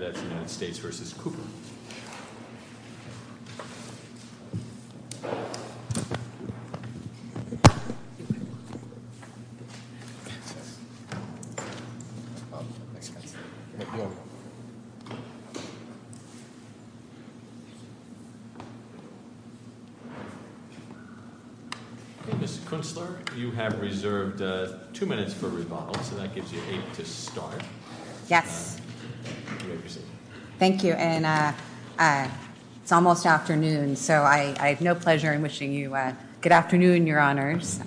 Ms. Kunstler, you have reserved two minutes for rebuttal, so that gives you eight to start. Yes. Thank you, and it's almost afternoon, so I have no pleasure in wishing you good afternoon, Your Honors.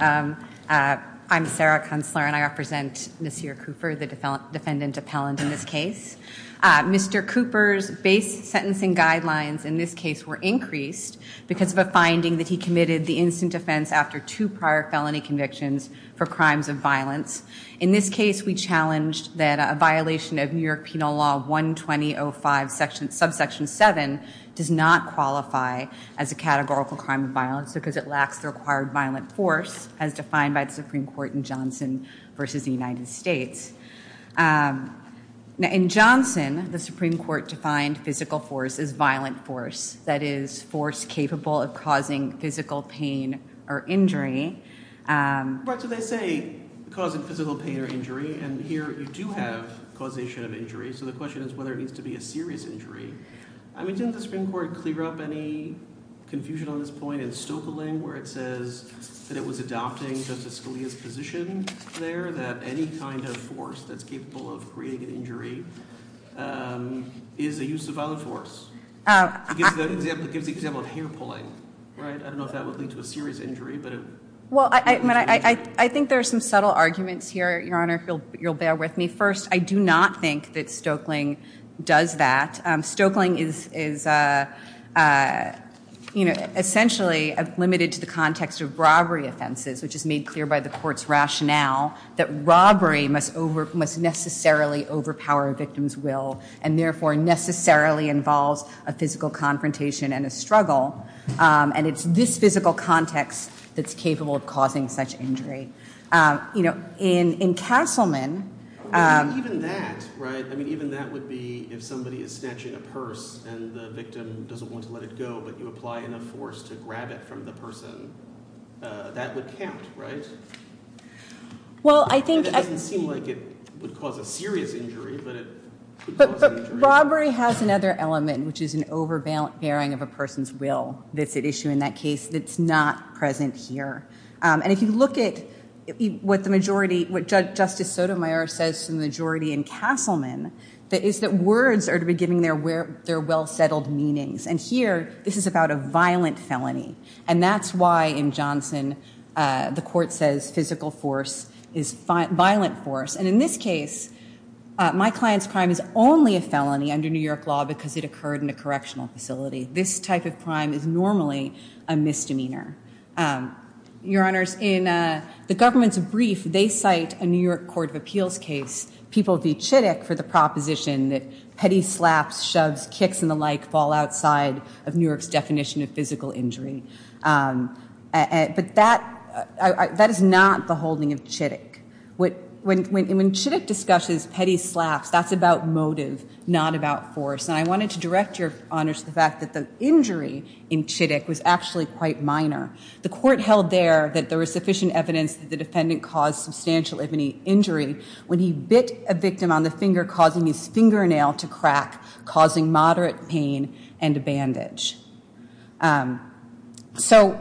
I'm Sarah Kunstler, and I represent Mr. Cooper, the defendant appellant in this case. Mr. Cooper's base sentencing guidelines in this case were increased because of a finding that he committed the instant offense after two prior felony convictions for crimes of violence. In this case, we challenged that a violation of New York Penal Law 120.05 subsection 7 does not qualify as a categorical crime of violence because it lacks the required violent force as defined by the Supreme Court in Johnson v. the United States. In Johnson, the Supreme Court defined physical force as violent force, that is, force capable of causing physical pain or injury. Right, so they say causing physical pain or injury, and here you do have causation of injury, so the question is whether it needs to be a serious injury. I mean, didn't the Supreme Court clear up any confusion on this point in Stoekeling where it says that it was adopting Justice Scalia's position there that any kind of force that's capable of creating an injury is a use of violent force? It gives the example of hair pulling, right? I don't know if that would lead to a serious injury. Well, I think there are some subtle arguments here, Your Honor, if you'll bear with me. First, I do not think that Stoekeling does that. Stoekeling is essentially limited to the context of robbery offenses, which is made clear by the Court's rationale that robbery must necessarily overpower a victim's will and therefore necessarily involves a physical confrontation and a struggle, and it's this physical context that's capable of causing such injury. In Castleman... Even that, right? I mean, even that would be if somebody is snatching a purse and the victim doesn't want to let it go, but you apply enough force to grab it from the person, that would count, right? Well, I think... It doesn't seem like it would cause a serious injury, but it could cause an injury. But robbery has another element, which is an overbearing of a person's will that's at issue in that case that's not present here. And if you look at what Justice Sotomayor says to the majority in Castleman, that is that words are to be given their well-settled meanings. And here, this is about a violent felony, and that's why in Johnson the Court says physical force is violent force. And in this case, my client's crime is only a felony under New York law because it occurred in a correctional facility. This type of crime is normally a misdemeanor. Your Honors, in the government's brief, they cite a New York court of appeals case, people v. Chittick, for the proposition that petty slaps, shoves, kicks and the like fall outside of New York's definition of physical injury. But that is not the holding of Chittick. When Chittick discusses petty slaps, that's about motive, not about force. And I wanted to direct your Honors to the fact that the injury in Chittick was actually quite minor. The court held there that there was sufficient evidence that the defendant caused substantial injury when he bit a victim on the finger, causing his fingernail to crack, causing moderate pain and a bandage. So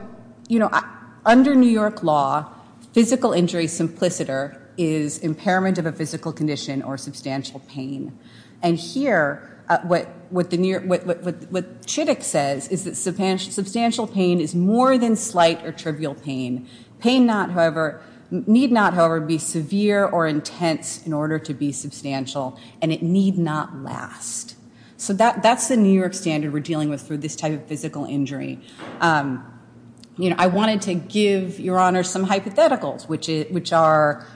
under New York law, physical injury simpliciter is impairment of a physical condition or substantial pain. And here, what Chittick says is that substantial pain is more than slight or trivial pain. Pain need not, however, be severe or intense in order to be substantial, and it need not last. So that's the New York standard we're dealing with for this type of physical injury. I wanted to give your Honors some hypotheticals, which are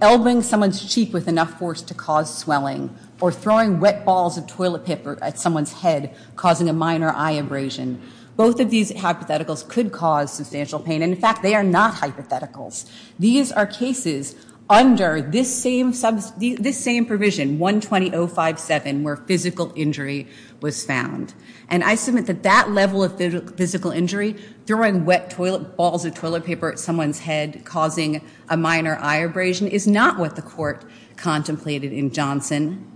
elbowing someone's cheek with enough force to cause swelling or throwing wet balls of toilet paper at someone's head, causing a minor eye abrasion. Both of these hypotheticals could cause substantial pain. And in fact, they are not hypotheticals. These are cases under this same provision, 120.057, where physical injury was found. And I submit that that level of physical injury, throwing wet balls of toilet paper at someone's head, causing a minor eye abrasion, is not what the court contemplated in Johnson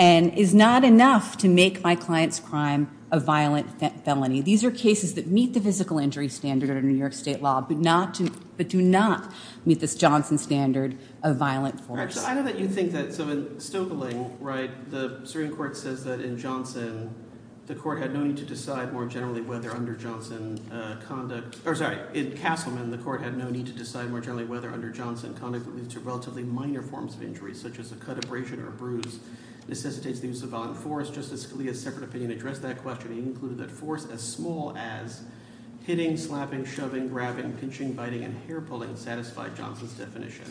and is not enough to make my client's crime a violent felony. These are cases that meet the physical injury standard under New York state law, but do not meet this Johnson standard of violent force. All right, so I know that you think that – so in Stoekeling, right, the Supreme Court says that in Johnson, the court had no need to decide more generally whether under Johnson conduct – or sorry. In Castleman, the court had no need to decide more generally whether under Johnson conduct would lead to relatively minor forms of injury such as a cut, abrasion, or a bruise necessitates the use of violent force. Justice Scalia's separate opinion addressed that question. He included that force as small as hitting, slapping, shoving, grabbing, pinching, biting, and hair-pulling satisfied Johnson's definition.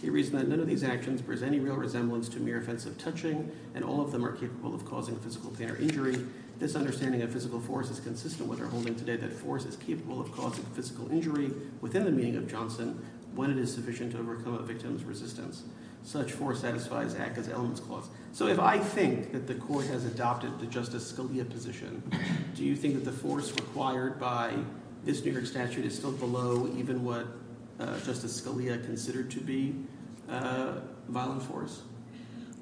He reasoned that none of these actions present any real resemblance to mere offensive touching and all of them are capable of causing physical pain or injury. This understanding of physical force is consistent with our holding today that force is capable of causing physical injury within the meaning of Johnson when it is sufficient to overcome a victim's resistance. Such force satisfies ACCA's elements clause. So if I think that the court has adopted the Justice Scalia position, do you think that the force required by this New York statute is still below even what Justice Scalia considered to be violent force?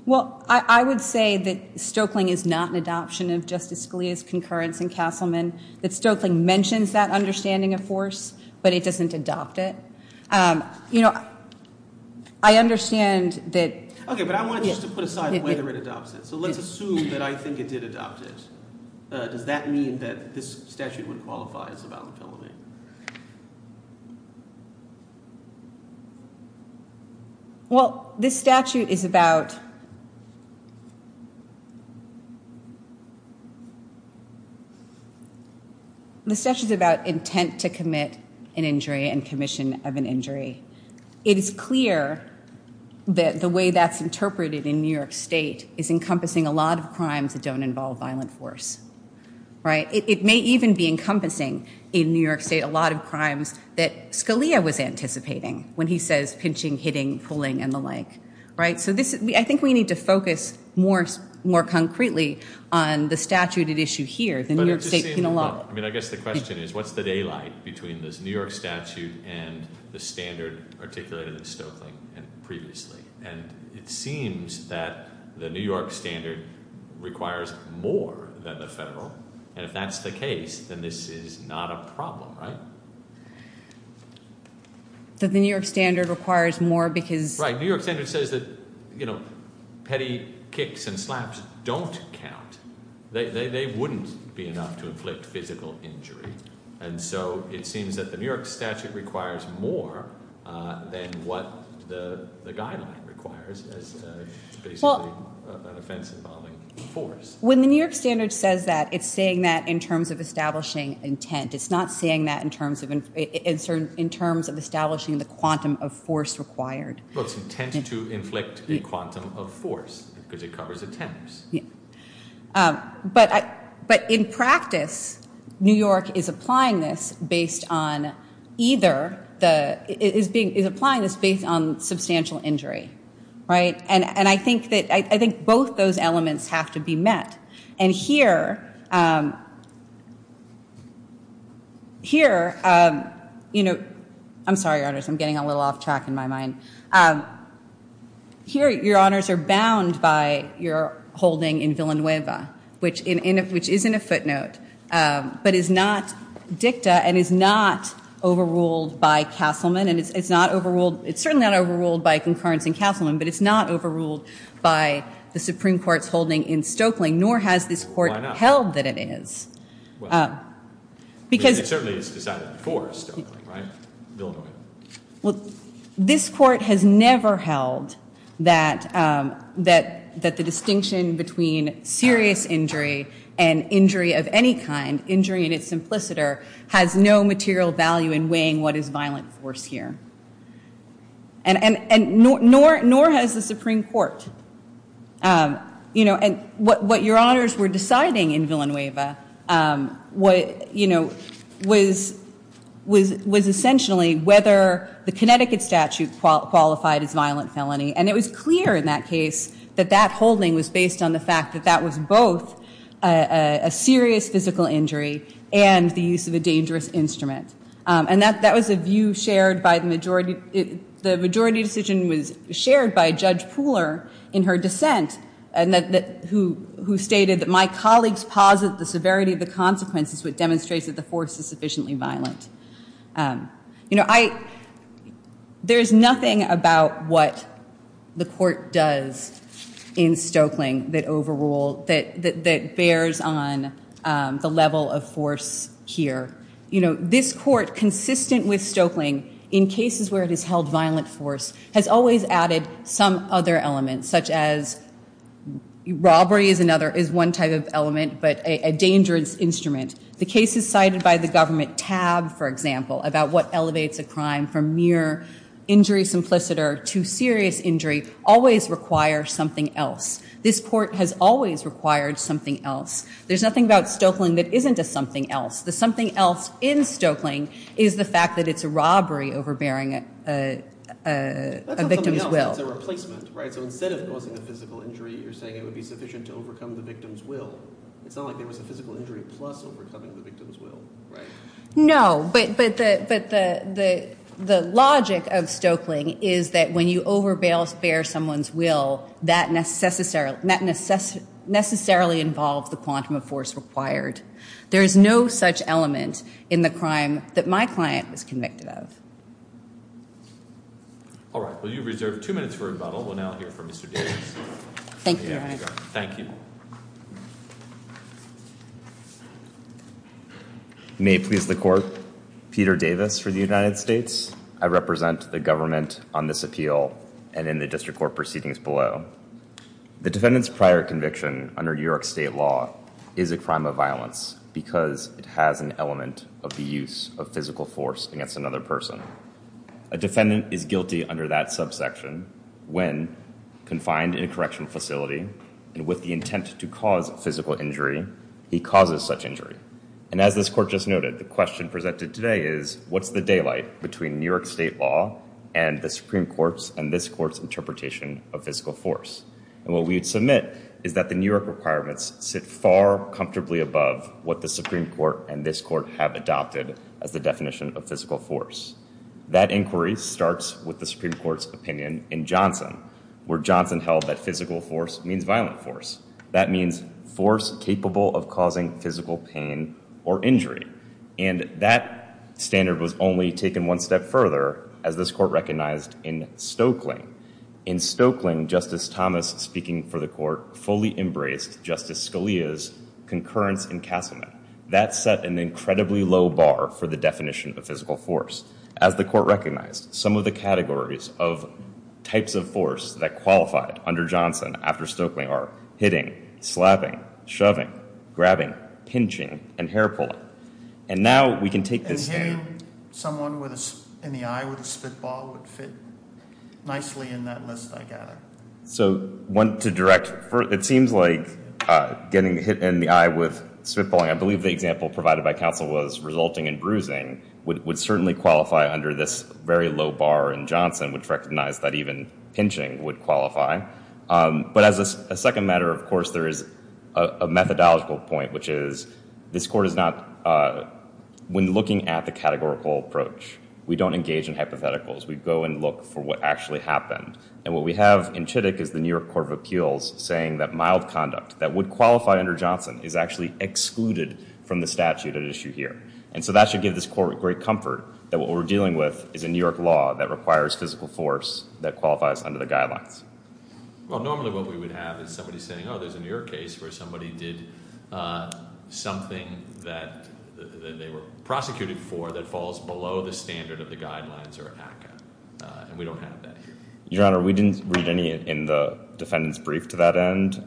Well, I would say that Stoeckling is not an adoption of Justice Scalia's concurrence in Castleman, that Stoeckling mentions that understanding of force, but it doesn't adopt it. You know, I understand that – Okay, but I wanted just to put aside whether it adopts it. So let's assume that I think it did adopt it. Does that mean that this statute would qualify as a violent felony? Well, this statute is about intent to commit an injury and commission of an injury. It is clear that the way that's interpreted in New York State is encompassing a lot of crimes that don't involve violent force. It may even be encompassing in New York State a lot of crimes that Scalia was anticipating when he says pinching, hitting, pulling, and the like. So I think we need to focus more concretely on the statute at issue here, the New York State penal law. I mean, I guess the question is what's the daylight between this New York statute and the standard articulated in Stoeckling previously? And it seems that the New York standard requires more than the federal. And if that's the case, then this is not a problem, right? That the New York standard requires more because – Right. New York standard says that petty kicks and slaps don't count. They wouldn't be enough to inflict physical injury. And so it seems that the New York statute requires more than what the guideline requires as basically an offense involving force. When the New York standard says that, it's saying that in terms of establishing intent. It's not saying that in terms of establishing the quantum of force required. Well, it's intent to inflict a quantum of force because it covers attempts. But in practice, New York is applying this based on either the – is applying this based on substantial injury, right? And I think both those elements have to be met. And here, you know – I'm sorry, Your Honors. I'm getting a little off track in my mind. Here, Your Honors, are bound by your holding in Villanueva, which is in a footnote, but is not dicta and is not overruled by Castleman. And it's not overruled – it's certainly not overruled by concurrence in Castleman, but it's not overruled by the Supreme Court's holding in Stokeling, nor has this court held that it is. Well, I mean, it certainly is decided before Stokeling, right? Villanueva. Well, this court has never held that the distinction between serious injury and injury of any kind, injury in its simpliciter, has no material value in weighing what is violent force here. And nor has the Supreme Court. You know, and what Your Honors were deciding in Villanueva, you know, was essentially whether the Connecticut statute qualified as violent felony. And it was clear in that case that that holding was based on the fact that that was both a serious physical injury and the use of a dangerous instrument. And that was a view shared by the majority – the majority decision was shared by Judge Pooler in her dissent, who stated that my colleagues posit the severity of the consequences which demonstrates that the force is sufficiently violent. You know, I – there's nothing about what the court does in Stokeling that overrule – that bears on the level of force here. You know, this court, consistent with Stokeling, in cases where it has held violent force, has always added some other elements, such as robbery is another – is one type of element, but a dangerous instrument. The cases cited by the government tab, for example, about what elevates a crime from mere injury simpliciter to serious injury always require something else. This court has always required something else. There's nothing about Stokeling that isn't a something else. The something else in Stokeling is the fact that it's a robbery overbearing a victim's will. That's not something else. It's a replacement, right? So instead of causing a physical injury, you're saying it would be sufficient to overcome the victim's will. It's not like there was a physical injury plus overcoming the victim's will, right? No, but the logic of Stokeling is that when you overbear someone's will, that necessarily involves the quantum of force required. There is no such element in the crime that my client was convicted of. All right. Well, you've reserved two minutes for rebuttal. We'll now hear from Mr. Davis. Thank you, Your Honor. Thank you. May it please the court. Peter Davis for the United States. I represent the government on this appeal and in the district court proceedings below. The defendant's prior conviction under New York state law is a crime of violence because it has an element of the use of physical force against another person. A defendant is guilty under that subsection when confined in a correctional facility and with the intent to cause physical injury, he causes such injury. And as this court just noted, the question presented today is, what's the daylight between New York state law and the Supreme Court's and this court's interpretation of physical force? And what we would submit is that the New York requirements sit far comfortably above what the Supreme Court and this court have adopted as the definition of physical force. That inquiry starts with the Supreme Court's opinion in Johnson, where Johnson held that physical force means violent force. That means force capable of causing physical pain or injury. And that standard was only taken one step further as this court recognized in Stokely. In Stokely, Justice Thomas, speaking for the court, fully embraced Justice Scalia's concurrence in Castleman. That set an incredibly low bar for the definition of physical force. As the court recognized, some of the categories of types of force that qualified under Johnson after Stokely are hitting, slapping, shoving, grabbing, pinching, and hair-pulling. And now we can take this standard. And hitting someone in the eye with a spitball would fit nicely in that list, I gather. So to direct, it seems like getting hit in the eye with spitballing, I believe the example provided by counsel was resulting in bruising, would certainly qualify under this very low bar in Johnson, which recognized that even pinching would qualify. But as a second matter, of course, there is a methodological point, which is this court is not, when looking at the categorical approach, we don't engage in hypotheticals. We go and look for what actually happened. And what we have in Chittick is the New York Court of Appeals saying that mild conduct that would qualify under Johnson is actually excluded from the statute at issue here. And so that should give this court great comfort that what we're dealing with is a New York law that requires physical force that qualifies under the guidelines. Well, normally what we would have is somebody saying, oh, there's a New York case where somebody did something that they were prosecuted for that falls below the standard of the guidelines or ACCA. And we don't have that here. Your Honor, we didn't read any in the defendant's brief to that end.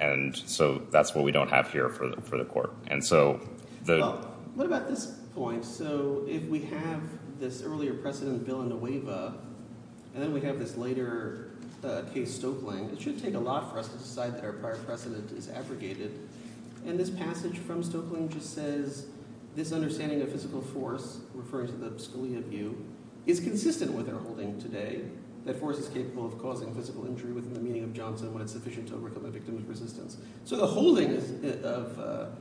And so that's what we don't have here for the court. And so the— Well, what about this point? So if we have this earlier precedent, Bill and Nueva, and then we have this later case, Stoeckling, it should take a lot for us to decide that our prior precedent is abrogated. And this passage from Stoeckling just says, this understanding of physical force, referring to the Scalia view, is consistent with our holding today that force is capable of causing physical injury within the meaning of Johnson when it's sufficient to overcome a victim's resistance. So the holding of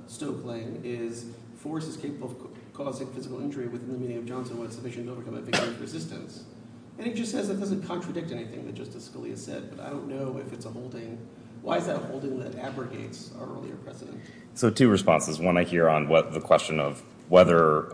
Stoeckling is force is capable of causing physical injury within the meaning of Johnson when it's sufficient to overcome a victim's resistance. And it just says it doesn't contradict anything that Justice Scalia said. But I don't know if it's a holding. Why is that a holding that abrogates our earlier precedent? So two responses. One, I hear on the question of whether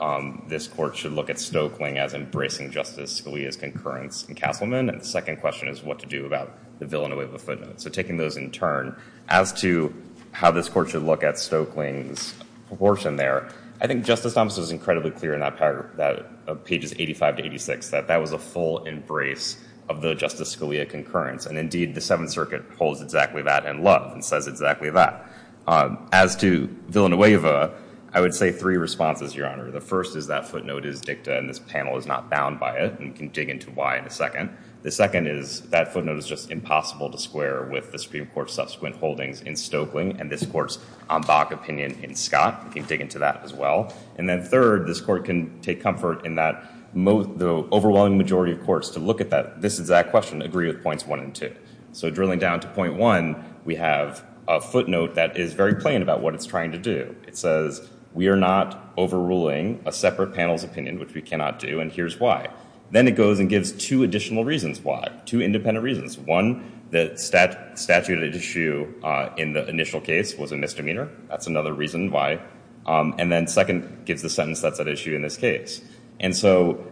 this court should look at Stoeckling as embracing Justice Scalia's concurrence in Castleman. And the second question is what to do about the Bill and Nueva footnotes. So taking those in turn, as to how this court should look at Stoeckling's proportion there, I think Justice Thomas was incredibly clear in pages 85 to 86 that that was a full embrace of the Justice Scalia concurrence. And indeed, the Seventh Circuit holds exactly that in love and says exactly that. As to Bill and Nueva, I would say three responses, Your Honor. The first is that footnote is dicta and this panel is not bound by it and can dig into why in a second. The second is that footnote is just impossible to square with the Supreme Court's subsequent holdings in Stoeckling and this court's en bas opinion in Scott. It can dig into that as well. And then third, this court can take comfort in that the overwhelming majority of courts to look at this exact question agree with points one and two. So drilling down to point one, we have a footnote that is very plain about what it's trying to do. It says we are not overruling a separate panel's opinion, which we cannot do, and here's why. Then it goes and gives two additional reasons why, two independent reasons. One, the statute issue in the initial case was a misdemeanor. That's another reason why. And then second, gives the sentence that's at issue in this case. And so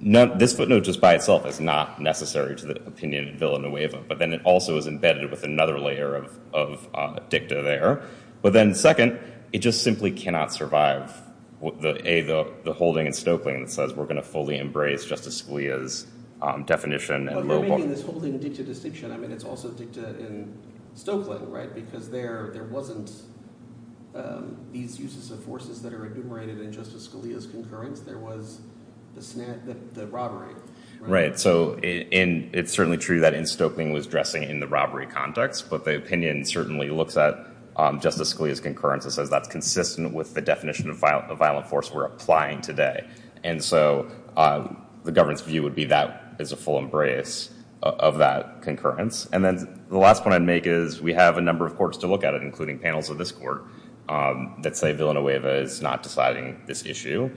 this footnote just by itself is not necessary to the opinion of Bill and Nueva, but then it also is embedded with another layer of dicta there. But then second, it just simply cannot survive the holding in Stoeckling that says we're going to fully embrace Justice Scalia's definition. Well, you're making this holding dicta distinction. I mean, it's also dicta in Stoeckling, right? Because there wasn't these uses of forces that are enumerated in Justice Scalia's concurrence. There was the robbery. Right. So it's certainly true that in Stoeckling was dressing in the robbery context, but the opinion certainly looks at Justice Scalia's concurrence and says that's consistent with the definition of violent force we're applying today. And so the government's view would be that is a full embrace of that concurrence. And then the last point I'd make is we have a number of courts to look at it, including panels of this court, that say Bill and Nueva is not deciding this issue.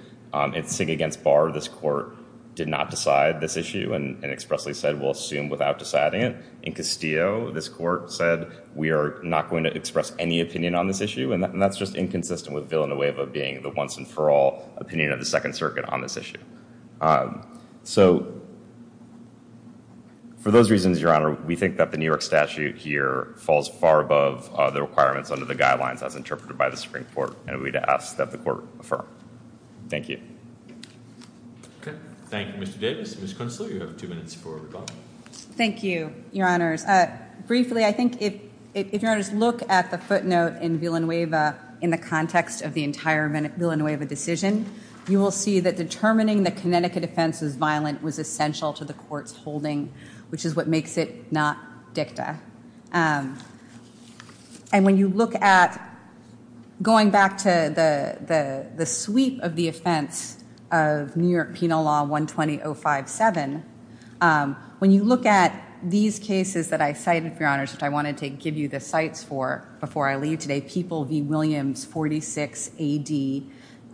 In SIG against Barr, this court did not decide this issue and expressly said we'll assume without deciding it. In Castillo, this court said we are not going to express any opinion on this issue, and that's just inconsistent with Bill and Nueva being the once and for all opinion of the Second Circuit on this issue. So for those reasons, Your Honor, we think that the New York statute here falls far above the requirements under the guidelines as interpreted by the Supreme Court, and we'd ask that the court affirm. Thank you. OK. Thank you, Mr. Davis. Ms. Kunstler, you have two minutes for rebuttal. Thank you, Your Honors. Briefly, I think if Your Honors look at the footnote in Bill and Nueva in the context of the entire Bill and Nueva decision, you will see that determining that Connecticut offense was violent was essential to the court's holding, which is what makes it not dicta. And when you look at going back to the sweep of the offense of New York Penal Law 120-057, when you look at these cases that I cited, Your Honors, which I wanted to give you the cites for before I leave today, People v. Williams 46 AD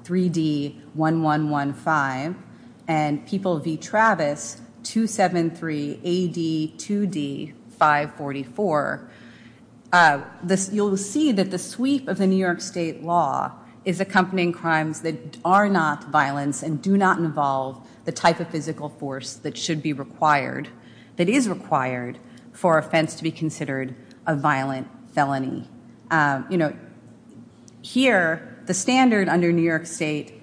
3D 1115 and People v. Travis 273 AD 2D 544, you'll see that the sweep of the New York state law is accompanying crimes that are not violence and do not involve the type of physical force that should be required, that is required, for offense to be considered a violent felony. Here, the standard under New York state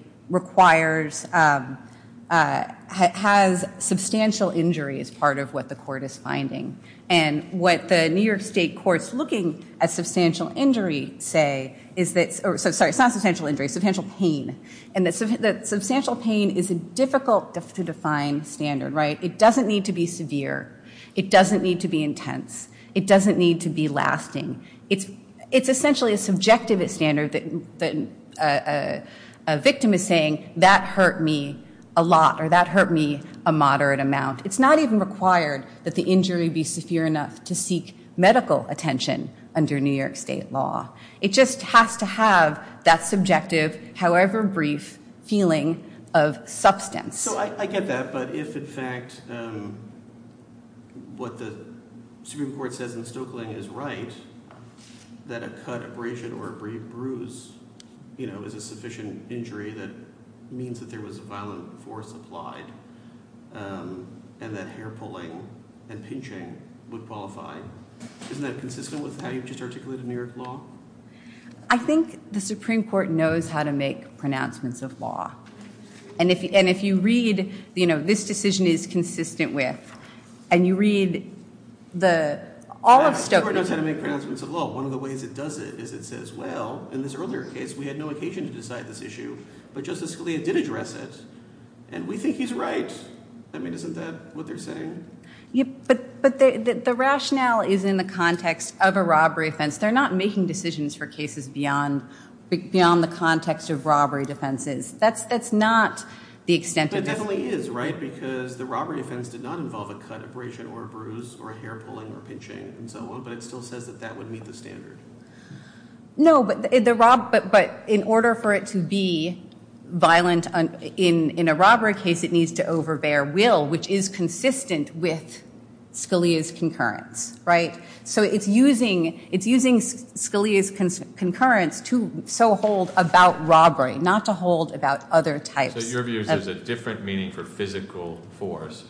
has substantial injury as part of what the court is finding. And what the New York state courts looking at substantial injury say is that, sorry, it's not substantial injury, substantial pain. And that substantial pain is a difficult to define standard. It doesn't need to be severe. It doesn't need to be intense. It doesn't need to be lasting. It's essentially a subjective standard that a victim is saying, that hurt me a lot or that hurt me a moderate amount. It's not even required that the injury be severe enough to seek medical attention under New York state law. It just has to have that subjective, however brief, feeling of substance. So I get that. But if, in fact, what the Supreme Court says in Stoeckling is right, that a cut, abrasion, or a bruise is a sufficient injury that means that there was violent force applied, and that hair pulling and pinching would qualify, isn't that consistent with how you just articulated New York law? I think the Supreme Court knows how to make pronouncements of law. And if you read, this decision is consistent with, and you read all of Stoeckling. The Supreme Court knows how to make pronouncements of law. One of the ways it does it is it says, well, in this earlier case, we had no occasion to decide this issue. But Justice Scalia did address it. And we think he's right. I mean, isn't that what they're saying? But the rationale is in the context of a robbery offense. They're not making decisions for cases beyond the context of robbery defenses. That's not the extent of this. But it definitely is, right? Because the robbery offense did not involve a cut, abrasion, or a bruise, or a hair pulling, or pinching, and so on. But it still says that that would meet the standard. No, but in order for it to be violent in a robbery case, it needs to overbear will, which is consistent with Scalia's concurrence, right? So it's using Scalia's concurrence to so hold about robbery, not to hold about other types. So your view is there's a different meaning for physical force,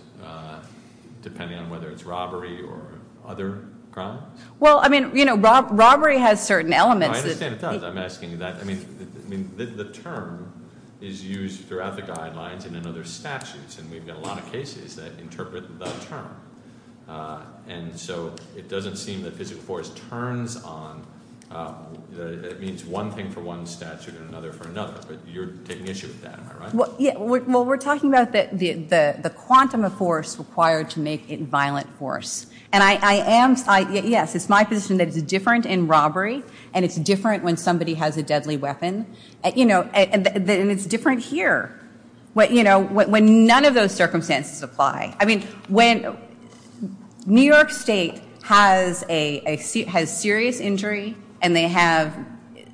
depending on whether it's robbery or other crime? Well, I mean, robbery has certain elements. I understand it does. I'm asking that. I mean, the term is used throughout the guidelines and in other statutes. And we've got a lot of cases that interpret the term. And so it doesn't seem that physical force turns on, that it means one thing for one statute and another for another. But you're taking issue with that, am I right? Well, yeah. Well, we're talking about the quantum of force required to make it violent force. And I am, yes, it's my position that it's different in robbery and it's different when somebody has a deadly weapon. And it's different here, when none of those circumstances apply. I mean, when New York State has serious injury and they have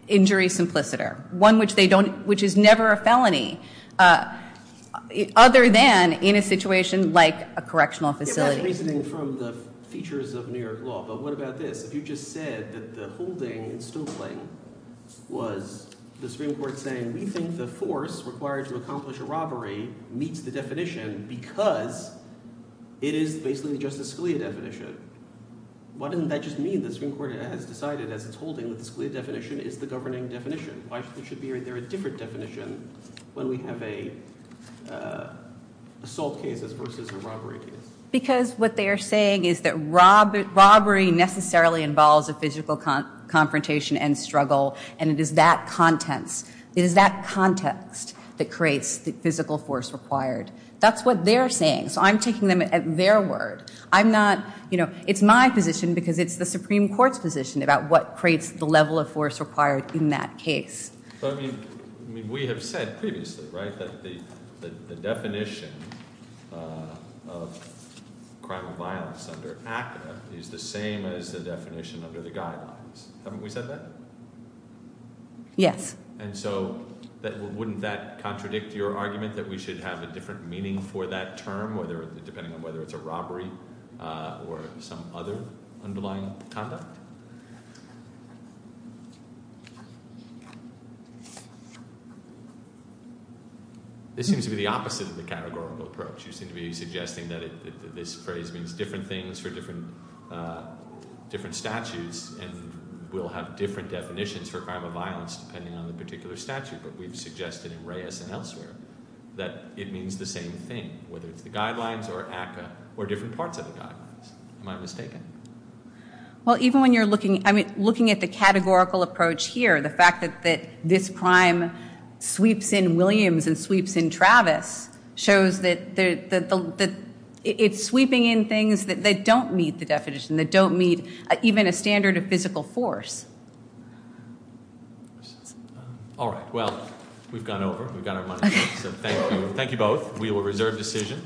injury simpliciter, one which is never a felony, other than in a situation like a correctional facility. It was reasoning from the features of New York law. But what about this? If you just said that the holding in Stokely was the Supreme Court saying, we think the force required to accomplish a robbery meets the definition because it is basically just a Scalia definition, why doesn't that just mean the Supreme Court has decided, as it's holding, that the Scalia definition is the governing definition? Why should there be a different definition when we have assault cases versus a robbery case? Because what they are saying is that robbery necessarily involves a physical confrontation and struggle. And it is that context that creates the physical force required. That's what they're saying. So I'm taking them at their word. I'm not, you know, it's my position because it's the Supreme Court's position about what creates the level of force required in that case. But I mean, we have said previously, right, that the definition of crime of violence under ACCA is the same as the definition under the guidelines. Haven't we said that? Yes. And so wouldn't that contradict your argument that we should have a different meaning for that term, depending on whether it's a robbery or some other underlying conduct? This seems to be the opposite of the categorical approach. You seem to be suggesting that this phrase means different things for different statutes and we'll have different definitions for crime of violence depending on the particular statute. But we've suggested in Reyes and elsewhere that it means the same thing, whether it's the guidelines or ACCA or different parts of the guidelines. Am I mistaken? Well, even when you're looking at the categorical approach here, the fact that this crime sweeps in Williams and sweeps in Travis shows that it's sweeping in things that don't meet the definition, that don't meet even a standard of physical force. All right. Well, we've gone over. We've got our money. So thank you. Thank you both. We will reserve decision.